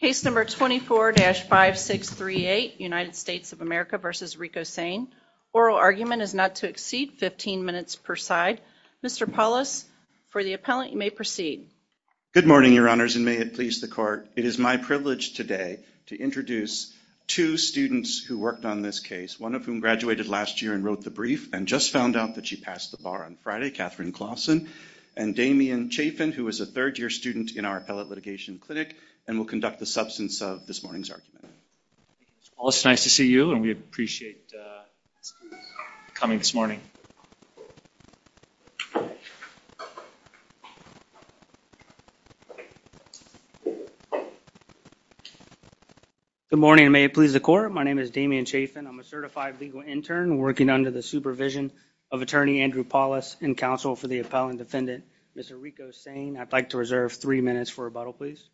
Case number 24-5638, United States of America v. Ricco Saine. Oral argument is not to exceed 15 minutes per side. Mr. Paulus, for the appellant, you may proceed. Good morning, Your Honors, and may it please the Court, it is my privilege today to introduce two students who worked on this case, one of whom graduated last year and wrote the brief and just found out that she passed the bar on Friday, and Damian Chafin, who is a third-year student in our Appellate Litigation Clinic and will conduct the substance of this morning's argument. Mr. Paulus, nice to see you, and we appreciate you coming this morning. Good morning, and may it please the Court, my name is Damian Chafin. I'm a certified legal intern working under the supervision of Attorney Andrew Paulus in counsel for the appellant defendant, Mr. Ricco Saine. I'd like to reserve three minutes for rebuttal, please.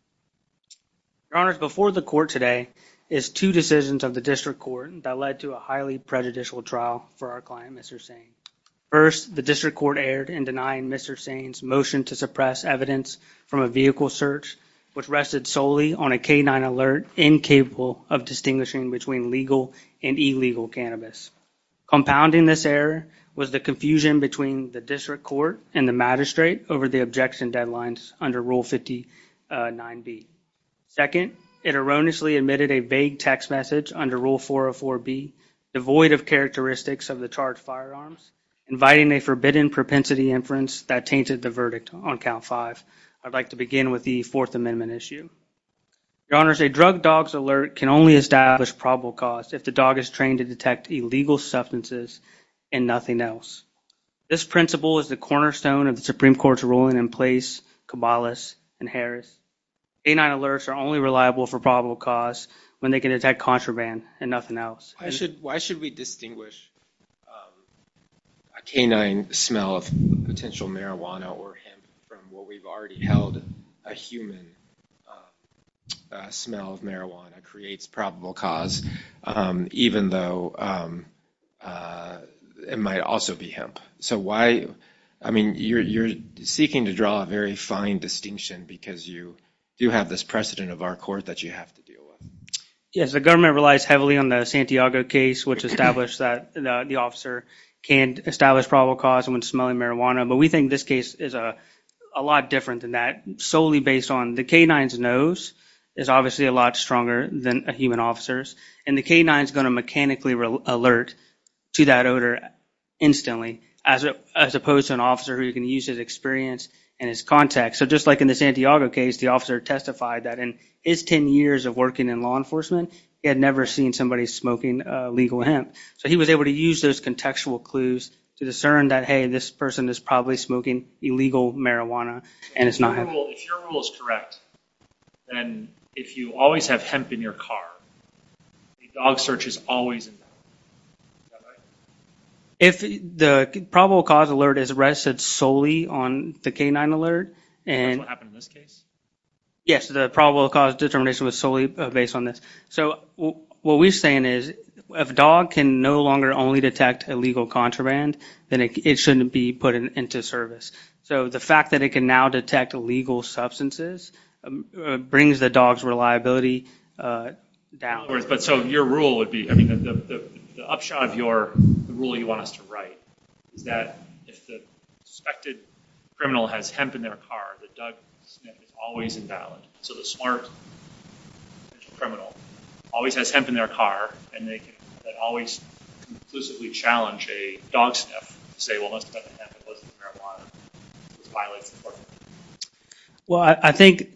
Your Honors, before the Court today is two decisions of the District Court that led to a highly prejudicial trial for our client, Mr. Saine. First, the District Court erred in denying Mr. Saine's motion to suppress evidence from a vehicle search, which rested solely on a K-9 alert incapable of distinguishing between legal and illegal cannabis. Compounding this error was the confusion between the District Court and the magistrate over the objection deadlines under Rule 59B. Second, it erroneously admitted a vague text message under Rule 404B, devoid of characteristics of the charged firearms, inviting a forbidden propensity inference that tainted the verdict on Count 5. I'd like to begin with the Fourth Amendment issue. Your Honors, a drug dog's alert can only establish probable cause if the dog is trained to detect illegal substances and nothing else. This principle is the cornerstone of the Supreme Court's ruling in place Kabbalist and Harris. K-9 alerts are only reliable for probable cause when they can detect contraband and nothing else. Why should we distinguish a K-9 smell of potential marijuana or hemp from what we've already held? A human smell of marijuana creates probable cause, even though it might also be hemp. So why, I mean, you're seeking to draw a very fine distinction because you do have this precedent of our Court that you have to deal with. Yes, the government relies heavily on the Santiago case, which established that the officer can't establish probable cause when smelling marijuana. But we think this case is a lot different than that, solely based on the K-9's nose is obviously a lot stronger than a human officer's. And the K-9 is going to mechanically alert to that odor instantly, as opposed to an officer who can use his experience and his contacts. So just like in the Santiago case, the officer testified that in his 10 years of working in law enforcement, he had never seen somebody smoking legal hemp. So he was able to use those contextual clues to discern that, hey, this person is probably smoking illegal marijuana and it's not hemp. If your rule is correct, then if you always have hemp in your car, the dog search is always invalid. Is that right? The probable cause alert is rested solely on the K-9 alert. That's what happened in this case? Yes, the probable cause determination was solely based on this. So what we're saying is if a dog can no longer only detect illegal contraband, then it shouldn't be put into service. So the fact that it can now detect illegal substances brings the dog's reliability downwards. The upshot of the rule you want us to write is that if the suspected criminal has hemp in their car, the dog sniff is always invalid. So the smart criminal always has hemp in their car and they can always conclusively challenge a dog sniff to say, well, it must have been hemp, it wasn't marijuana. This violates the fourth amendment. Well, I think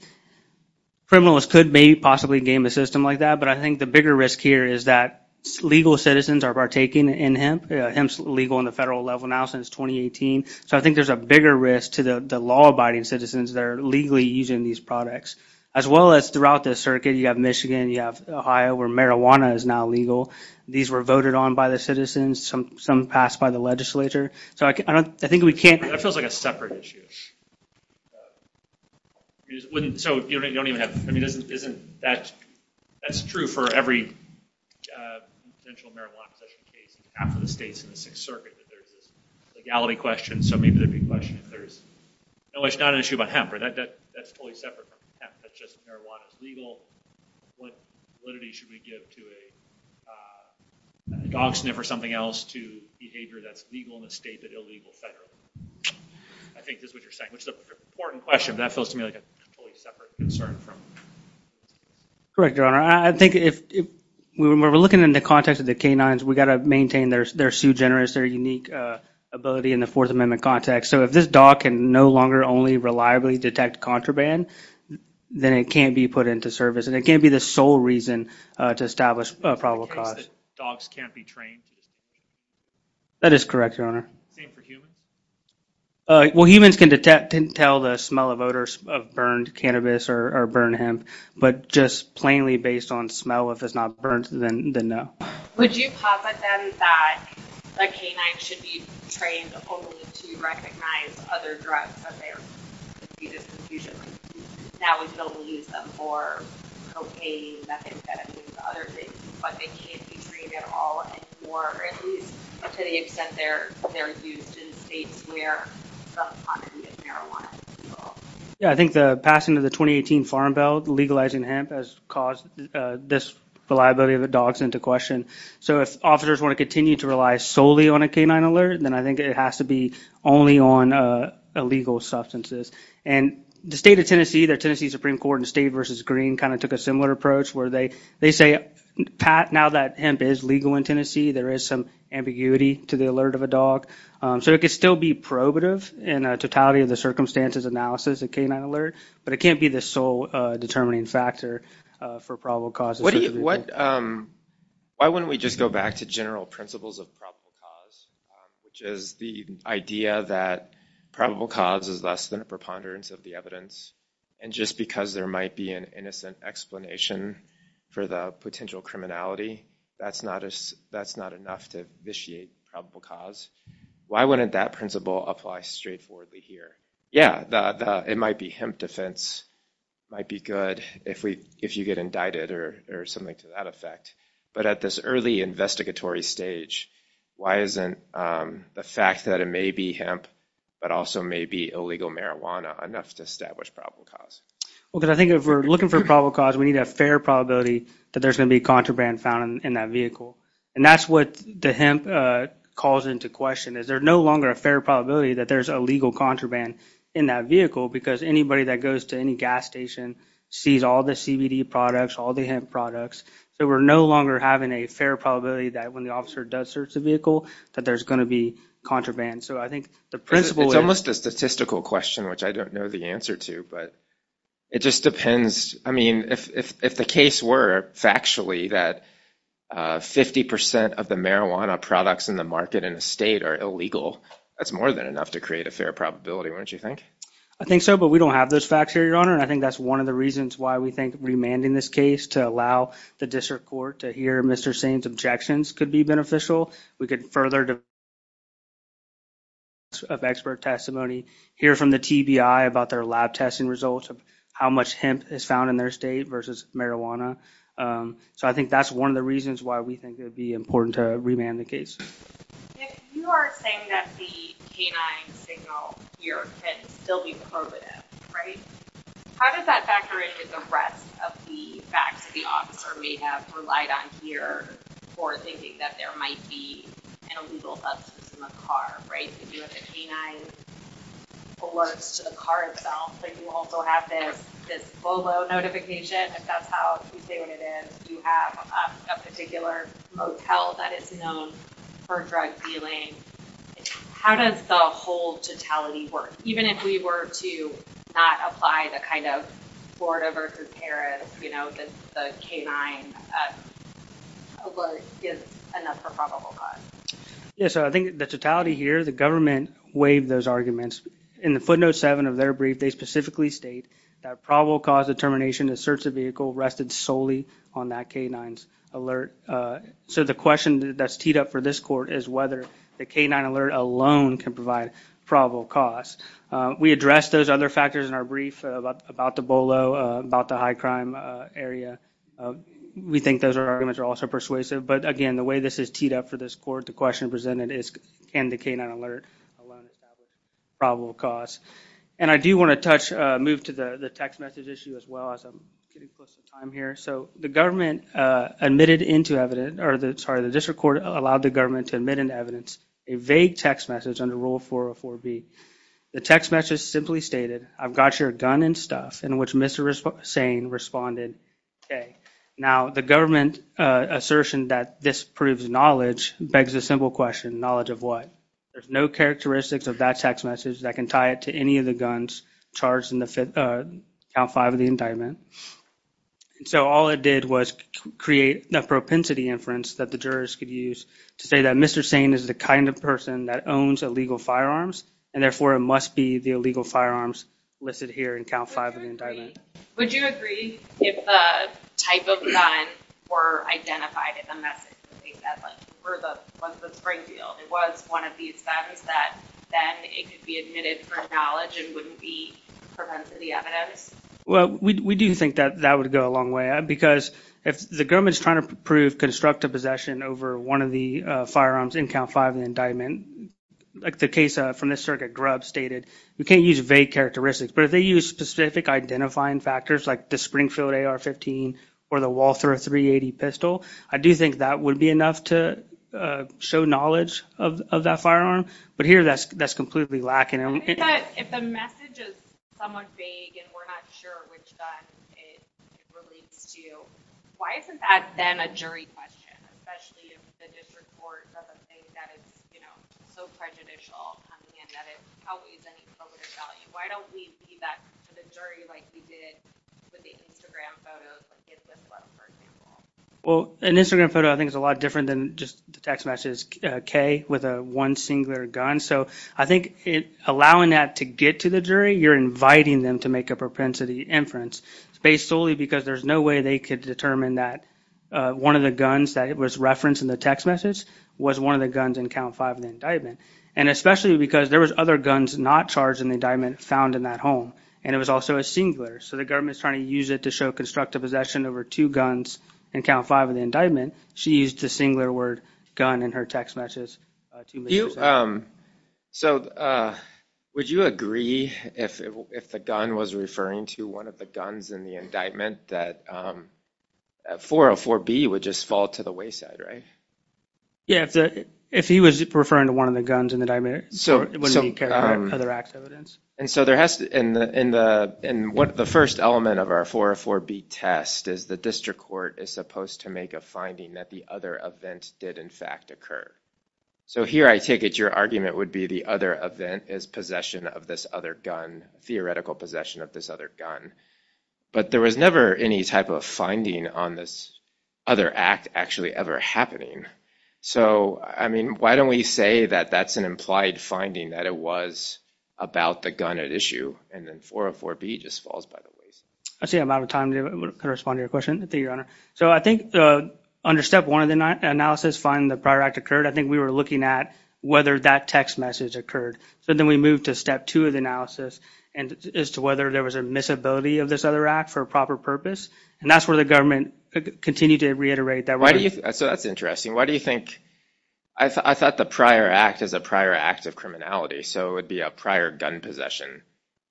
criminals could possibly game a system like that. But I think the bigger risk here is that legal citizens are partaking in hemp. Hemp is legal on the federal level now since 2018. So I think there's a bigger risk to the law-abiding citizens that are legally using these products. As well as throughout the circuit, you have Michigan, you have Ohio, where marijuana is now legal. These were voted on by the citizens. Some passed by the legislature. That feels like a separate issue. That's true for every potential marijuana possession case. Half of the state's in the Sixth Circuit that there's this legality question. So maybe there'd be a question if there's not an issue about hemp. That's totally separate from hemp. That's just marijuana is legal. What validity should we give to a dog sniff or something else to behavior that's legal in the state but illegal federally? I think this is what you're saying, which is an important question. But that feels to me like a totally separate concern. Correct, Your Honor. I think when we're looking in the context of the canines, we've got to maintain their sue-generous, their unique ability in the fourth amendment context. So if this dog can no longer only reliably detect contraband, then it can't be put into service. And it can't be the sole reason to establish a probable cause. In the case that dogs can't be trained. That is correct, Your Honor. Same for humans? Well, humans can tell the smell of odor of burned cannabis or burned hemp. But just plainly based on smell, if it's not burnt, then no. Would you posit then that a canine should be trained only to recognize other drugs that they're using? Now we can only use them for cocaine, methamphetamine, and other things. But they can't be trained at all anymore, or at least to the extent they're used in states where they're on marijuana. Yeah, I think the passing of the 2018 Farm Bill legalizing hemp has caused this reliability of the dogs into question. So if officers want to continue to rely solely on a canine alert, then I think it has to be only on illegal substances. And the state of Tennessee, the Tennessee Supreme Court in State v. Green kind of took a similar approach where they say, Pat, now that hemp is legal in Tennessee, there is some ambiguity to the alert of a dog. So it could still be probative in a totality of the circumstances analysis of canine alert, but it can't be the sole determining factor for probable causes. Why wouldn't we just go back to general principles of probable cause, which is the idea that probable cause is less than a preponderance of the evidence. And just because there might be an innocent explanation for the potential criminality, that's not enough to vitiate probable cause. Why wouldn't that principle apply straightforwardly here? Yeah, it might be hemp defense, might be good if you get indicted or something to that effect. But at this early investigatory stage, why isn't the fact that it may be hemp, but also may be illegal marijuana enough to establish probable cause? Well, because I think if we're looking for probable cause, we need a fair probability that there's going to be contraband found in that vehicle. And that's what the hemp calls into question, is there no longer a fair probability that there's illegal contraband in that vehicle because anybody that goes to any gas station sees all the CBD products, all the hemp products. So we're no longer having a fair probability that when the officer does search the vehicle that there's going to be contraband. It's almost a statistical question, which I don't know the answer to, but it just depends. I mean, if the case were factually that 50% of the marijuana products in the market in the state are illegal, that's more than enough to create a fair probability, wouldn't you think? I think so, but we don't have those facts here, Your Honor. And I think that's one of the reasons why we think remanding this case to allow the district court to hear Mr. Sainz's objections could be beneficial. ...of expert testimony, hear from the TBI about their lab testing results, how much hemp is found in their state versus marijuana. So I think that's one of the reasons why we think it would be important to remand the case. If you are saying that the canine signal here can still be probative, right, how does that factor into the rest of the facts the officer may have relied on here for thinking that there might be an illegal substance in the car, right? If you have the canine alerts to the car itself, but you also have this VOLO notification, if that's how you say what it is, you have a particular motel that is known for drug dealing, how does the whole totality work? Even if we were to not apply the kind of Florida versus Paris, you know, the canine alert is enough for probable cause. Yeah, so I think the totality here, the government waived those arguments. In the footnote 7 of their brief, they specifically state that probable cause determination to search the vehicle rested solely on that canine's alert. So the question that's teed up for this court is whether the canine alert alone can provide probable cause. We addressed those other factors in our brief about the VOLO, about the high crime area. We think those arguments are also persuasive. But again, the way this is teed up for this court, the question presented is, can the canine alert alone establish probable cause? And I do want to touch, move to the text message issue as well, as I'm getting close to time here. So the government admitted into evidence, or sorry, the district court allowed the government to admit into evidence a vague text message under Rule 404B. The text message simply stated, I've got your gun and stuff, in which Mr. Sain responded, okay. Now, the government assertion that this proves knowledge begs the simple question, knowledge of what? There's no characteristics of that text message that can tie it to any of the guns charged in Account 5 of the indictment. And so all it did was create a propensity inference that the jurors could use to say that Mr. Sain is the kind of person that owns illegal firearms, and therefore it must be the illegal firearms listed here in Account 5 of the indictment. Would you agree if the type of gun were identified in the message, that was the Springfield, it was one of these guns, that then it could be admitted for knowledge and wouldn't be propensity evidence? Well, we do think that that would go a long way, because if the government is trying to prove constructive possession over one of the firearms in Account 5 of the indictment, like the case from the circuit Grubb stated, you can't use vague characteristics. But if they use specific identifying factors like the Springfield AR-15 or the Walther 380 pistol, I do think that would be enough to show knowledge of that firearm. But here that's completely lacking. If the message is somewhat vague and we're not sure which gun it relates to, why isn't that then a jury question, especially if the district court doesn't think that it's so prejudicial and that it outweighs any probative value? Why don't we leave that to the jury like we did with the Instagram photos, the kids' list photo, for example? Well, an Instagram photo, I think, is a lot different than just the text message, which is K with a one singular gun. So I think allowing that to get to the jury, you're inviting them to make a propensity inference. It's based solely because there's no way they could determine that one of the guns that was referenced in the text message was one of the guns in Account 5 of the indictment, and especially because there was other guns not charged in the indictment found in that home, and it was also a singular. So the government is trying to use it to show constructive possession over two guns in Account 5 of the indictment. She used the singular word gun in her text messages. So would you agree if the gun was referring to one of the guns in the indictment that 404B would just fall to the wayside, right? Yeah, if he was referring to one of the guns in the indictment, it wouldn't be carried by other acts of evidence. And so the first element of our 404B test is the district court is supposed to make a finding that the other event did, in fact, occur. So here I take it your argument would be the other event is possession of this other gun, theoretical possession of this other gun. But there was never any type of finding on this other act actually ever happening. So, I mean, why don't we say that that's an implied finding, that it was about the gun at issue, and then 404B just falls by the wayside. I see I'm out of time to respond to your question. Thank you, Your Honor. So I think under step one of the analysis finding the prior act occurred, I think we were looking at whether that text message occurred. So then we moved to step two of the analysis as to whether there was a missability of this other act for a proper purpose. And that's where the government continued to reiterate that. So that's interesting. Why do you think – I thought the prior act is a prior act of criminality, so it would be a prior gun possession.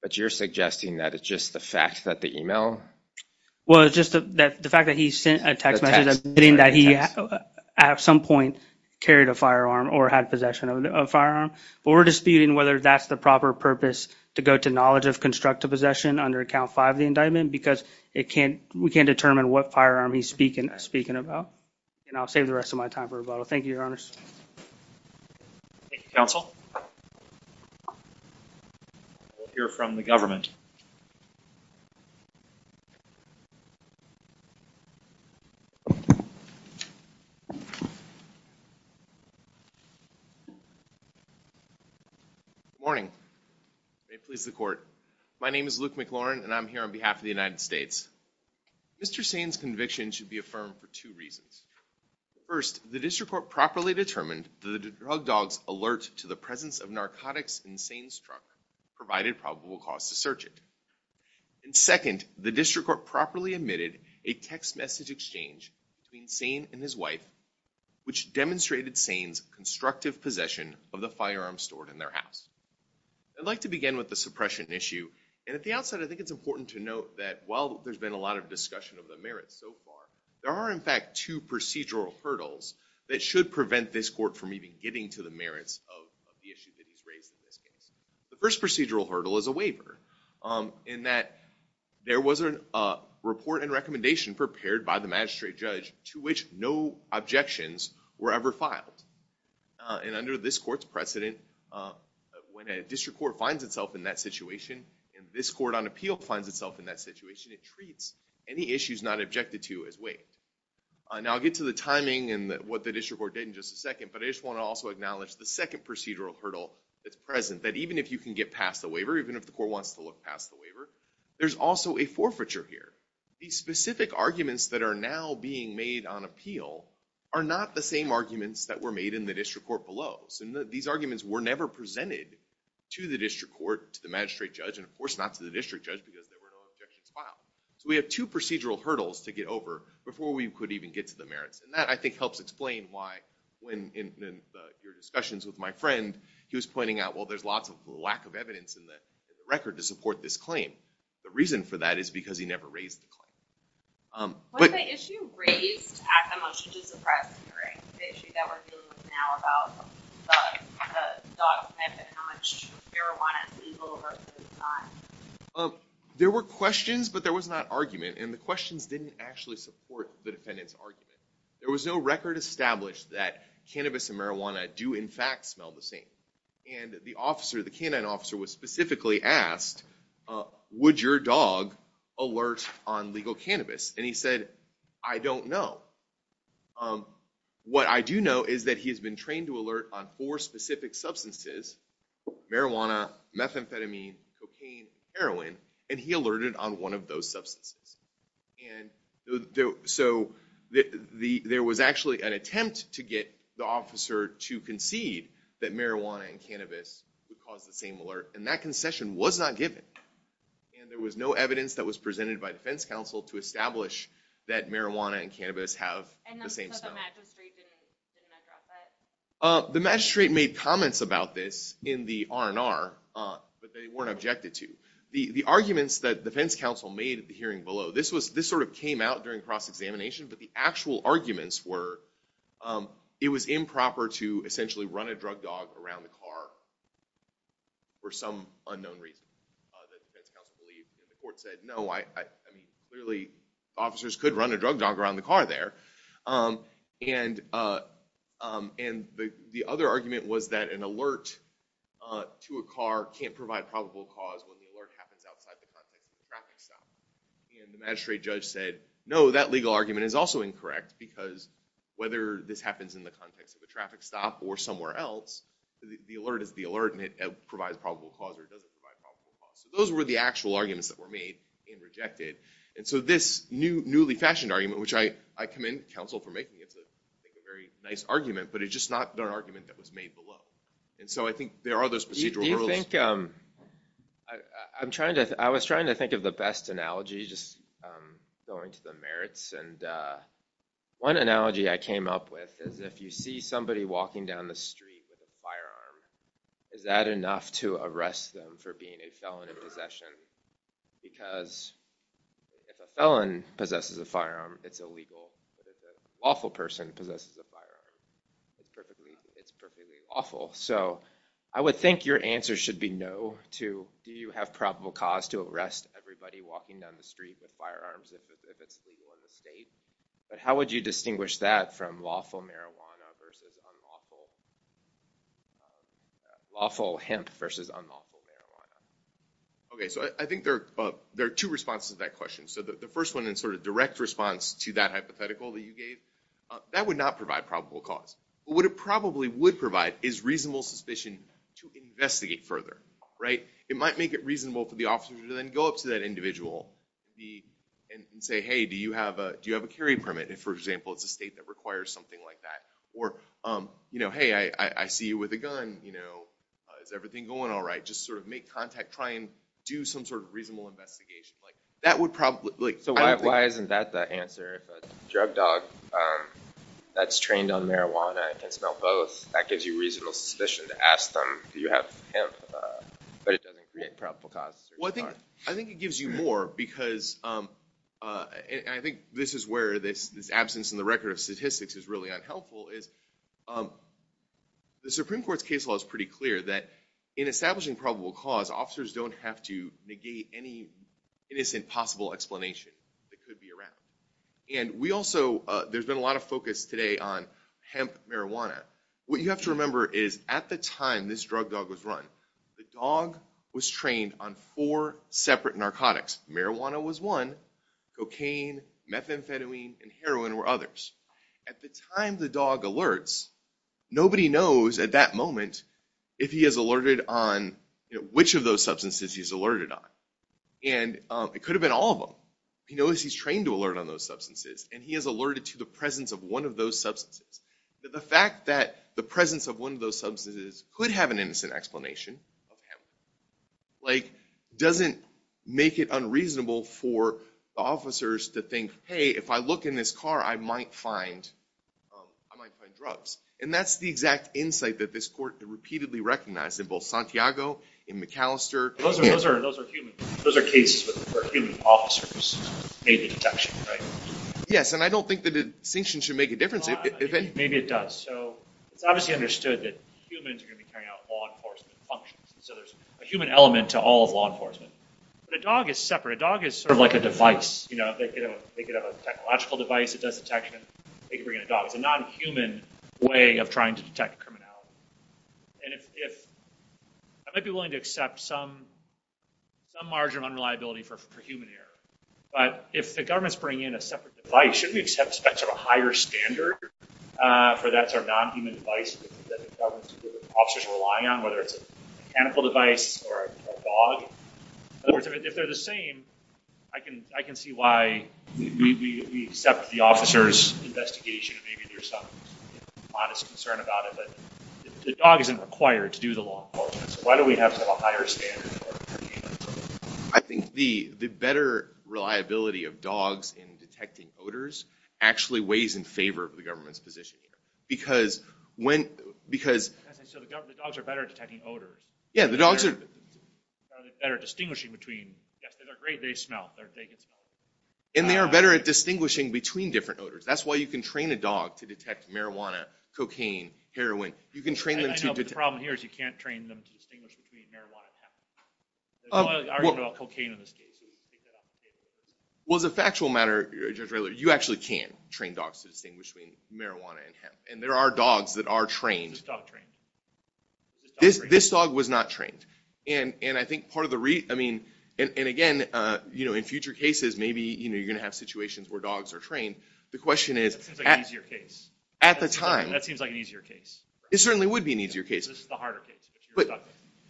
But you're suggesting that it's just the fact that the email – Well, it's just the fact that he sent a text message admitting that he, at some point, carried a firearm or had possession of a firearm. But we're disputing whether that's the proper purpose to go to knowledge of constructive possession under account five of the indictment because we can't determine what firearm he's speaking about. And I'll save the rest of my time for rebuttal. Thank you, Your Honors. Thank you, counsel. We'll hear from the government. Good morning. May it please the Court. My name is Luke McLaurin, and I'm here on behalf of the United States. Mr. Sain's conviction should be affirmed for two reasons. First, the district court properly determined that the drug dog's alert to the presence of narcotics in Sain's truck provided probable cause to search it. Second, the district court properly admitted a text message exchange between Sain and his wife, which demonstrated Sain's constructive possession of the firearm stored in their house. I'd like to begin with the suppression issue. At the outset, I think it's important to note that while there's been a lot of discussion of the merits so far, there are, in fact, two procedural hurdles that should prevent this court from even getting to the merits of the issue that he's raised in this case. The first procedural hurdle is a waiver in that there was a report and recommendation prepared by the magistrate judge to which no objections were ever filed. And under this court's precedent, when a district court finds itself in that situation and this court on appeal finds itself in that situation, it treats any issues not objected to as waived. Now, I'll get to the timing and what the district court did in just a second, but I just want to also acknowledge the second procedural hurdle that's present, that even if you can get past the waiver, even if the court wants to look past the waiver, there's also a forfeiture here. These specific arguments that are now being made on appeal are not the same arguments that were made in the district court below. These arguments were never presented to the district court, to the magistrate judge, and, of course, not to the district judge because there were no objections filed. So we have two procedural hurdles to get over before we could even get to the merits. And that, I think, helps explain why when in your discussions with my friend, he was pointing out, well, there's lots of lack of evidence in the record to support this claim. The reason for that is because he never raised the claim. Was the issue raised at the motion to suppress hearing, the issue that we're dealing with now about the dog sniff and how much marijuana is legal versus not? There were questions, but there was not argument. And the questions didn't actually support the defendant's argument. There was no record established that cannabis and marijuana do, in fact, smell the same. And the officer, the canine officer, was specifically asked, would your dog alert on legal cannabis? And he said, I don't know. What I do know is that he has been trained to alert on four specific substances, marijuana, methamphetamine, cocaine, heroin, and he alerted on one of those substances. So there was actually an attempt to get the officer to concede that marijuana and cannabis would cause the same alert. And that concession was not given. And there was no evidence that was presented by defense counsel to establish that marijuana and cannabis have the same smell. And the magistrate didn't address that? The magistrate made comments about this in the R&R, but they weren't objected to. The arguments that defense counsel made at the hearing below, this sort of came out during cross-examination, but the actual arguments were it was improper to essentially run a drug dog around the car for some unknown reason that defense counsel believed. And the court said, no, I mean, clearly, officers could run a drug dog around the car there. And the other argument was that an alert to a car can't provide probable cause when the alert happens outside the context of a traffic stop. And the magistrate judge said, no, that legal argument is also incorrect because whether this happens in the context of a traffic stop or somewhere else, the alert is the alert and it provides probable cause or it doesn't provide probable cause. So those were the actual arguments that were made and rejected. And so this newly fashioned argument, which I commend counsel for making, it's a very nice argument, but it's just not an argument that was made below. And so I think there are those procedural rules. Do you think – I'm trying to – I was trying to think of the best analogy, just going to the merits. And one analogy I came up with is if you see somebody walking down the street with a firearm, is that enough to arrest them for being a felon in possession? Because if a felon possesses a firearm, it's illegal. But if a lawful person possesses a firearm, it's perfectly lawful. So I would think your answer should be no to do you have probable cause to arrest everybody walking down the street with firearms if it's illegal in the state. But how would you distinguish that from lawful marijuana versus unlawful – lawful hemp versus unlawful marijuana? Okay, so I think there are two responses to that question. So the first one in sort of direct response to that hypothetical that you gave, that would not provide probable cause. But what it probably would provide is reasonable suspicion to investigate further, right? It might make it reasonable for the officer to then go up to that individual and say, hey, do you have a carry permit if, for example, it's a state that requires something like that. Or, hey, I see you with a gun. Is everything going all right? Just sort of make contact, try and do some sort of reasonable investigation. That would probably – So why isn't that the answer? If a drug dog that's trained on marijuana can smell both, that gives you reasonable suspicion to ask them, do you have hemp? But it doesn't create probable cause. Well, I think it gives you more because – and I think this is where this absence in the record of statistics is really unhelpful is the Supreme Court's case law is pretty clear that in establishing probable cause, officers don't have to negate any innocent possible explanation that could be around. And we also – there's been a lot of focus today on hemp marijuana. What you have to remember is at the time this drug dog was run, the dog was trained on four separate narcotics. Marijuana was one. Cocaine, methamphetamine, and heroin were others. At the time the dog alerts, nobody knows at that moment if he is alerted on which of those substances he's alerted on. And it could have been all of them. He knows he's trained to alert on those substances, and he is alerted to the presence of one of those substances. The fact that the presence of one of those substances could have an innocent explanation of hemp doesn't make it unreasonable for the officers to think, hey, if I look in this car, I might find drugs. And that's the exact insight that this court repeatedly recognized in both Santiago, in McAllister. Those are cases where human officers made the detection, right? Yes, and I don't think the distinction should make a difference. Maybe it does. So it's obviously understood that humans are going to be carrying out law enforcement functions. So there's a human element to all of law enforcement. But a dog is separate. A dog is sort of like a device. They could have a technological device that does detection. They could bring in a dog. It's a non-human way of trying to detect criminality. And I might be willing to accept some margin of unreliability for human error, but if the government's bringing in a separate device, shouldn't we expect sort of a higher standard for that sort of non-human device that the government's officers rely on, whether it's a mechanical device or a dog? In other words, if they're the same, I can see why we accept the officer's investigation. Maybe there's some modest concern about it, but the dog isn't required to do the law enforcement. So why do we have to have a higher standard? I think the better reliability of dogs in detecting odors actually weighs in favor of the government's position here. Because when – because – So the dogs are better at detecting odors. Yeah, the dogs are – They're better at distinguishing between – yes, they're great. They smell. They can smell. And they are better at distinguishing between different odors. That's why you can train a dog to detect marijuana, cocaine, heroin. You can train them to – I know, but the problem here is you can't train them to distinguish between marijuana and hemp. I don't know about cocaine in this case. Well, as a factual matter, Judge Redler, you actually can train dogs to distinguish between marijuana and hemp. And there are dogs that are trained. Is this dog trained? This dog was not trained. And I think part of the – I mean – and, again, in future cases, maybe you're going to have situations where dogs are trained. The question is – That seems like an easier case. At the time – That seems like an easier case. It certainly would be an easier case. This is the harder case.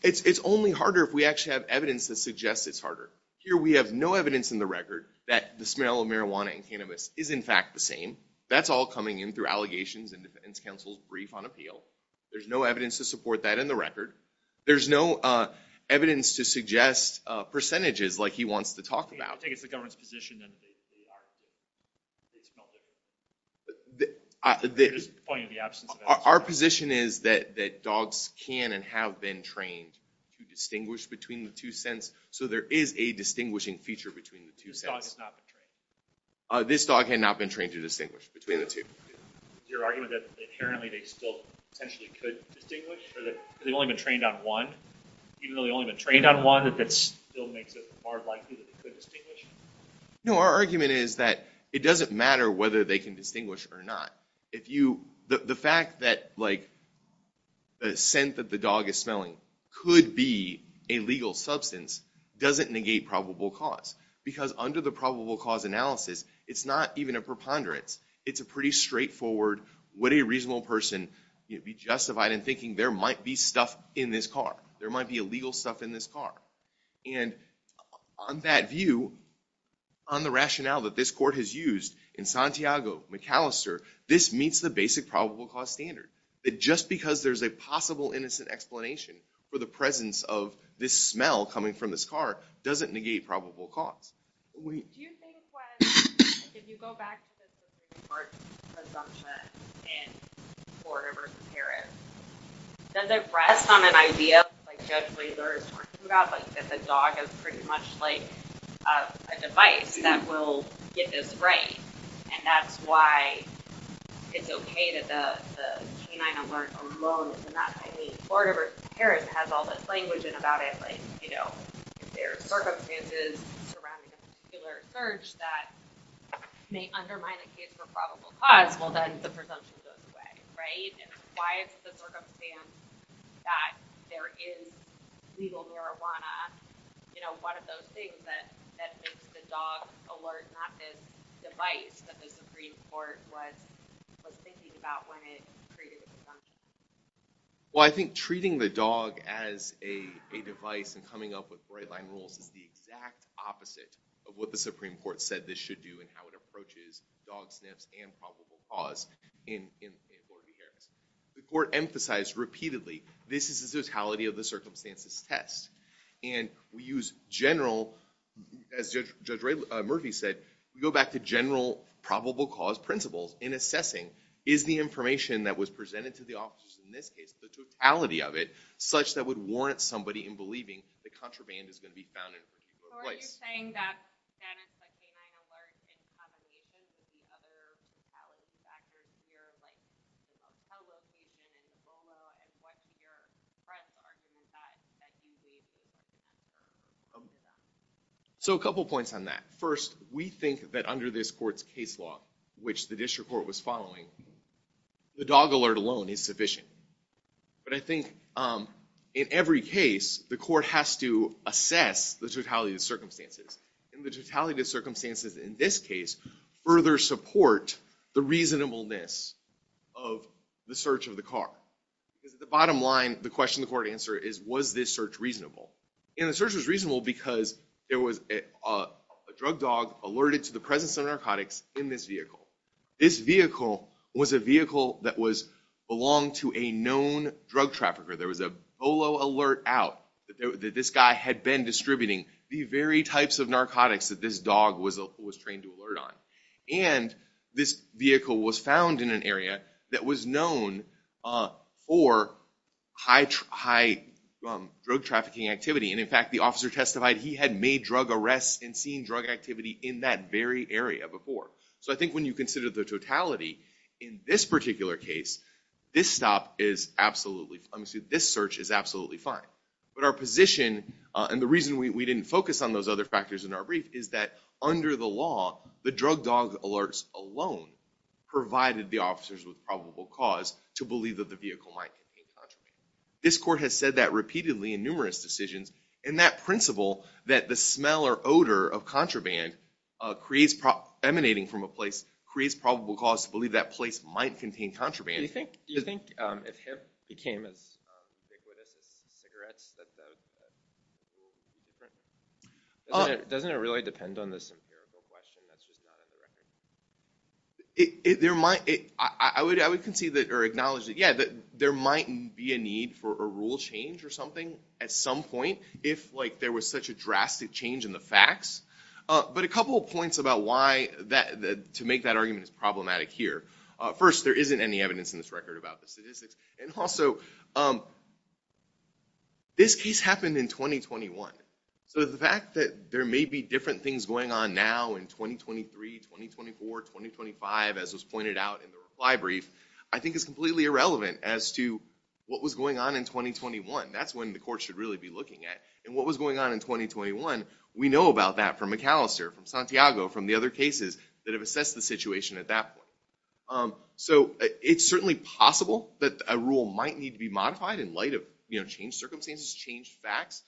It's only harder if we actually have evidence that suggests it's harder. Here we have no evidence in the record that the smell of marijuana and cannabis is, in fact, the same. That's all coming in through allegations and defense counsel's brief on appeal. There's no evidence to support that in the record. There's no evidence to suggest percentages like he wants to talk about. I think it's the government's position that they are – they smell different. You're just pointing to the absence of evidence. Our position is that dogs can and have been trained to distinguish between the two scents, so there is a distinguishing feature between the two scents. This dog has not been trained. This dog has not been trained to distinguish between the two. Is your argument that inherently they still potentially could distinguish or that they've only been trained on one, even though they've only been trained on one, that that still makes it more likely that they could distinguish? No, our argument is that it doesn't matter whether they can distinguish or not. The fact that the scent that the dog is smelling could be a legal substance doesn't negate probable cause because under the probable cause analysis, it's not even a preponderance. It's a pretty straightforward, would a reasonable person be justified in thinking there might be stuff in this car, there might be illegal stuff in this car. And on that view, on the rationale that this court has used in Santiago, McAllister, this meets the basic probable cause standard, that just because there's a possible innocent explanation for the presence of this smell coming from this car doesn't negate probable cause. Do you think when, if you go back to the 16 March presumption in Porter v. Harris, does it rest on an idea, like Judge Laser is talking about, that the dog is pretty much like a device that will get this right? And that's why it's okay that the canine alert alone is not hiding. Porter v. Harris has all this language in about it, like if there are circumstances surrounding a particular search that may undermine the case for probable cause, well then the presumption goes away, right? And why it's the circumstance that there is legal marijuana, you know, one of those things that makes the dog alert not this device that the Supreme Court was thinking about when it created the presumption. Well, I think treating the dog as a device and coming up with right-line rules is the exact opposite of what the Supreme Court said this should do and how it approaches dog sniffs and probable cause in Porter v. Harris. The court emphasized repeatedly this is the totality of the circumstances test. And we use general, as Judge Murphy said, we go back to general probable cause principles in assessing is the information that was presented to the officers in this case, the totality of it, such that would warrant somebody in believing the contraband is going to be found in a particular place. So are you saying that status of the canine alert in combination with the other totality factors here, like how located is Lolo and what's your press arching that you believe? So a couple points on that. First, we think that under this court's case law, which the district court was following, the dog alert alone is sufficient. But I think in every case, the court has to assess the totality of the circumstances. And the totality of the circumstances in this case further support the reasonableness of the search of the car. Because at the bottom line, the question the court answer is, was this search reasonable? And the search was reasonable because there was a drug dog alerted to the presence of narcotics in this vehicle. This vehicle was a vehicle that belonged to a known drug trafficker. There was a Lolo alert out that this guy had been distributing the very types of narcotics that this dog was trained to alert on. And this vehicle was found in an area that was known for high drug trafficking activity. And in fact, the officer testified he had made drug arrests and seen drug activity in that very area before. So I think when you consider the totality, in this particular case, this search is absolutely fine. But our position, and the reason we didn't focus on those other factors in our brief, is that under the law, the drug dog alerts alone provided the officers with probable cause to believe that the vehicle might contain contraband. This court has said that repeatedly in numerous decisions. And that principle, that the smell or odor of contraband emanating from a place creates probable cause to believe that place might contain contraband. Do you think if him became as ubiquitous as cigarettes, that the rule would be different? Doesn't it really depend on this empirical question? That's just not on the record? I would acknowledge that, yeah, there might be a need for a rule change or something at some point if there was such a drastic change in the facts. But a couple of points about why to make that argument is problematic here. First, there isn't any evidence in this record about the statistics. And also, this case happened in 2021. So the fact that there may be different things going on now in 2023, 2024, 2025, as was pointed out in the reply brief, I think is completely irrelevant as to what was going on in 2021. That's when the court should really be looking at. And what was going on in 2021, we know about that from McAllister, from Santiago, from the other cases that have assessed the situation at that point. So it's certainly possible that a rule might need to be modified in light of changed circumstances, changed facts.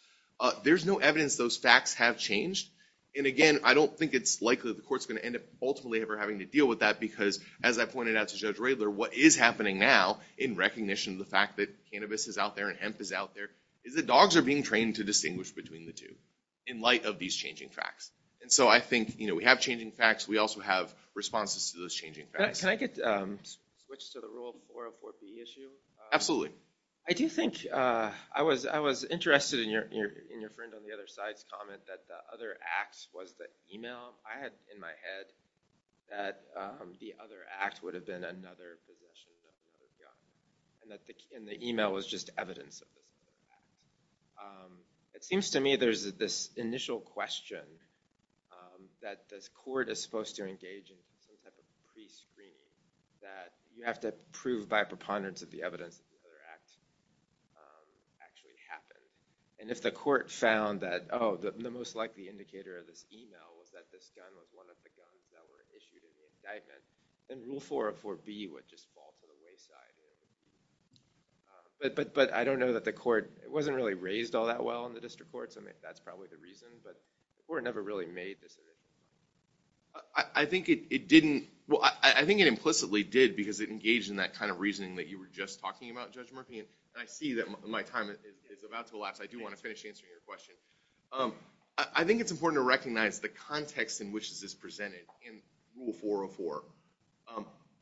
There's no evidence those facts have changed. And again, I don't think it's likely that the court's going to end up ultimately ever having to deal with that. Because as I pointed out to Judge Radler, what is happening now in recognition of the fact that cannabis is out there and hemp is out there is that dogs are being trained to distinguish between the two in light of these changing facts. And so I think we have changing facts. We also have responses to those changing facts. Can I switch to the rule 404B issue? Absolutely. I do think I was interested in your friend on the other side's comment that the other act was the email. I had in my head that the other act would have been another possession of another gun. And the email was just evidence of this other act. It seems to me there's this initial question that this court is supposed to engage in some type of prescreening, that you have to prove by preponderance of the evidence that the other act actually happened. And if the court found that, oh, the most likely indicator of this email was that this gun was one of the guns that were issued in the indictment, then rule 404B would just fall to the wayside. But I don't know that the court wasn't really raised all that well in the district courts. I mean, that's probably the reason. But the court never really made this evidence. I think it didn't. Well, I think it implicitly did, because it engaged in that kind of reasoning that you were just talking about, Judge Murphy. And I see that my time is about to elapse. I do want to finish answering your question. I think it's important to recognize the context in which this is presented in rule 404.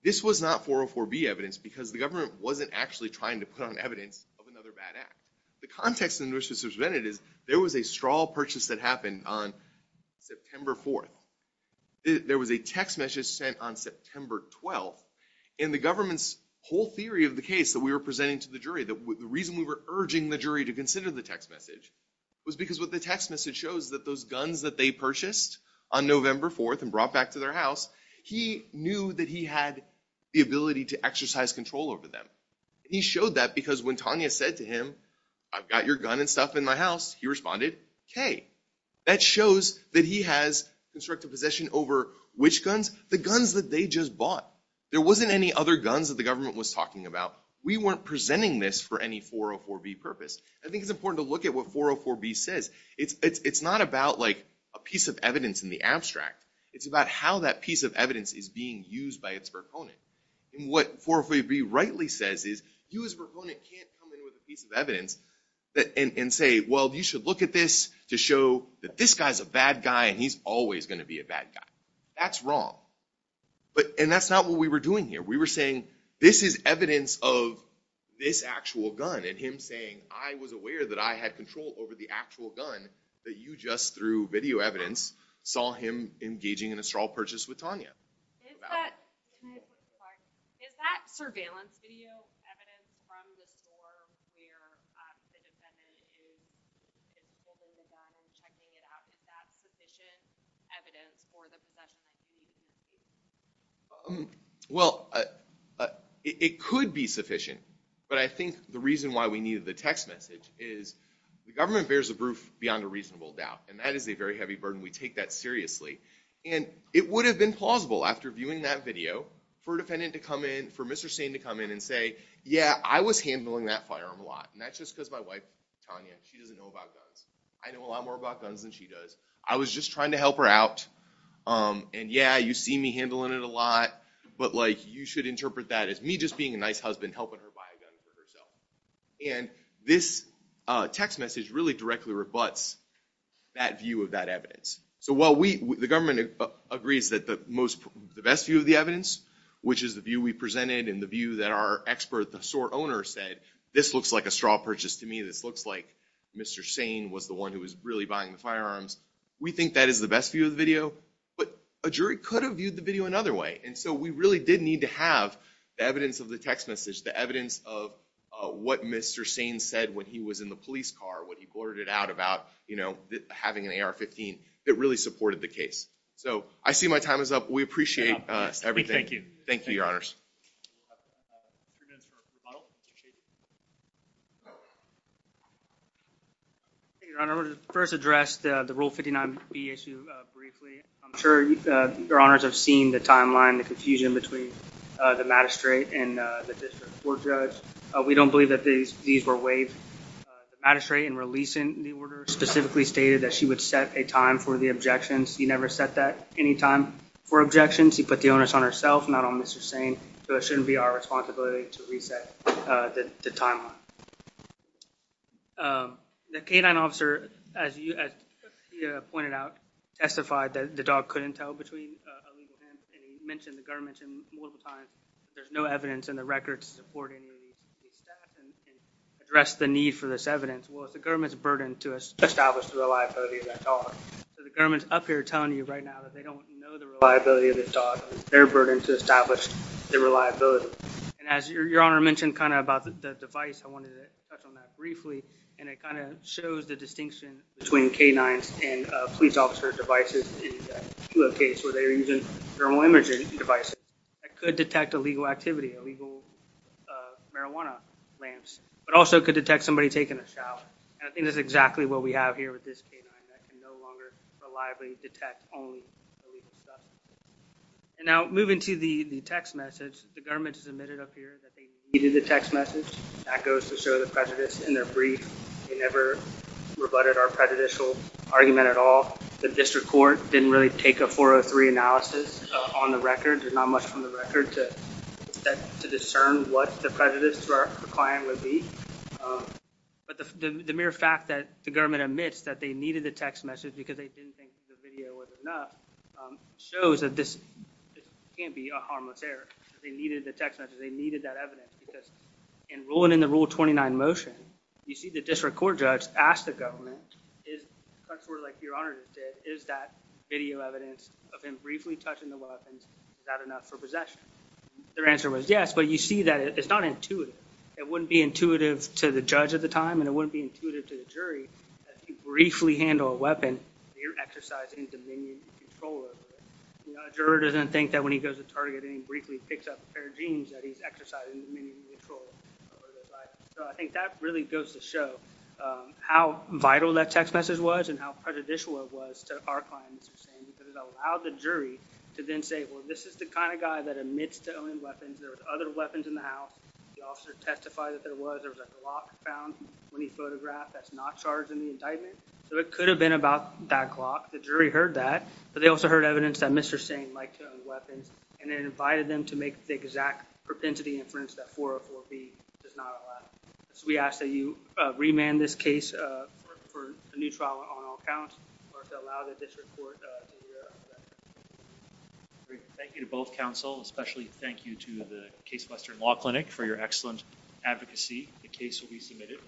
This was not 404B evidence, because the government wasn't actually trying to put on evidence of another bad act. The context in which this was presented is there was a straw purchase that happened on September 4th. There was a text message sent on September 12th. And the government's whole theory of the case that we were presenting to the jury, the reason we were urging the jury to consider the text message, was because what the text message shows is that those guns that they purchased on November 4th and brought back to their house, he knew that he had the ability to exercise control over them. He showed that because when Tanya said to him, I've got your gun and stuff in my house, he responded, OK. That shows that he has constructive possession over which guns? The guns that they just bought. There wasn't any other guns that the government was talking about. We weren't presenting this for any 404B purpose. I think it's important to look at what 404B says. It's not about a piece of evidence in the abstract. It's about how that piece of evidence is being used by its proponent. And what 404B rightly says is, you as a proponent can't come in with a piece of evidence and say, well, you should look at this to show that this guy's a bad guy and he's always going to be a bad guy. That's wrong. And that's not what we were doing here. We were saying, this is evidence of this actual gun. And him saying, I was aware that I had control over the actual gun, that you just, through video evidence, saw him engaging in a straw purchase with Tanya. Is that surveillance video evidence from the store where the defendant is looking at the gun and checking it out, is that sufficient evidence for the possession of the gun? Well, it could be sufficient. But I think the reason why we needed the text message is the government bears the proof beyond a reasonable doubt. And that is a very heavy burden. We take that seriously. And it would have been plausible after viewing that video for a defendant to come in, for Mr. Sane to come in and say, yeah, I was handling that firearm a lot. And that's just because my wife, Tanya, she doesn't know about guns. I know a lot more about guns than she does. I was just trying to help her out. And yeah, you see me handling it a lot. But you should interpret that as me just being a nice husband helping her buy a gun for herself. And this text message really directly rebuts that view of that evidence. So while the government agrees that the best view of the evidence, which is the view we presented and the view that our expert, the store owner said, this looks like a straw purchase to me. This looks like Mr. Sane was the one who was really buying the firearms. We think that is the best view of the video. But a jury could have viewed the video another way. And so we really did need to have the evidence of the text message, the evidence of what Mr. Sane said when he was in the police car, what he blurted out about having an AR-15. It really supported the case. So I see my time is up. We appreciate everything. We thank you. Thank you, Your Honors. Your Honor, I want to first address the Rule 59B issue briefly. I'm sure Your Honors have seen the timeline, the confusion between the magistrate and the district court judge. We don't believe that these were waived. The magistrate, in releasing the order, specifically stated that she would set a time for the objections. She never set that any time for objections. She put the onus on herself, not on Mr. Sane. So it shouldn't be our responsibility to reset the timeline. The K-9 officer, as you pointed out, testified that the dog couldn't tell between illegal hands. And he mentioned the government multiple times. There's no evidence in the records to support any of these staff and address the need for this evidence. Well, it's the government's burden to establish the reliability of that dog. So the government's up here telling you right now that they don't know the reliability of this dog. And it's their burden to establish the reliability. And as Your Honor mentioned about the device, I wanted to touch on that briefly. And it shows the distinction between K-9s and police officer devices in the case where they are using thermal imaging devices that could detect illegal activity, illegal marijuana lamps, but also could detect somebody taking a shower. And I think that's exactly what we have here with this K-9 that can no longer reliably detect only illegal stuff. And now moving to the text message, the government has admitted up here that they needed the text message. That goes to show the prejudice in their brief. They never rebutted our prejudicial argument at all. The district court didn't really take a 403 analysis on the record. There's not much from the record to discern what the prejudice to our client would be. But the mere fact that the government admits that they needed the text message because they didn't think the video was enough shows that this can't be a harmless error. They needed the text message. They needed that evidence. Because in ruling in the Rule 29 motion, you see the district court judge ask the government, like Your Honor just did, is that video evidence of him briefly touching the weapons, is that enough for possession? Their answer was yes, but you see that it's not intuitive. It wouldn't be intuitive to the judge at the time and it wouldn't be intuitive to the jury if you briefly handle a weapon, you're exercising dominion and control over it. A juror doesn't think that when he goes to target and he briefly picks up a pair of jeans that he's exercising dominion and control over those items. So I think that really goes to show how vital that text message was and how prejudicial it was to our client, Mr. Sain, because it allowed the jury to then say, well, this is the kind of guy that admits to owning weapons. There was other weapons in the house. The officer testified that there was. There was a clock found when he photographed that's not charged in the indictment. So it could have been about that clock. The jury heard that, but they also heard evidence that Mr. Sain liked to own weapons and it invited them to make the exact propensity inference that 404B does not allow. So we ask that you remand this case for a new trial on all counts or to allow the district court to hear after that hearing. Thank you to both counsel, especially thank you to the Case Western Law Clinic for your excellent advocacy. The case will be submitted.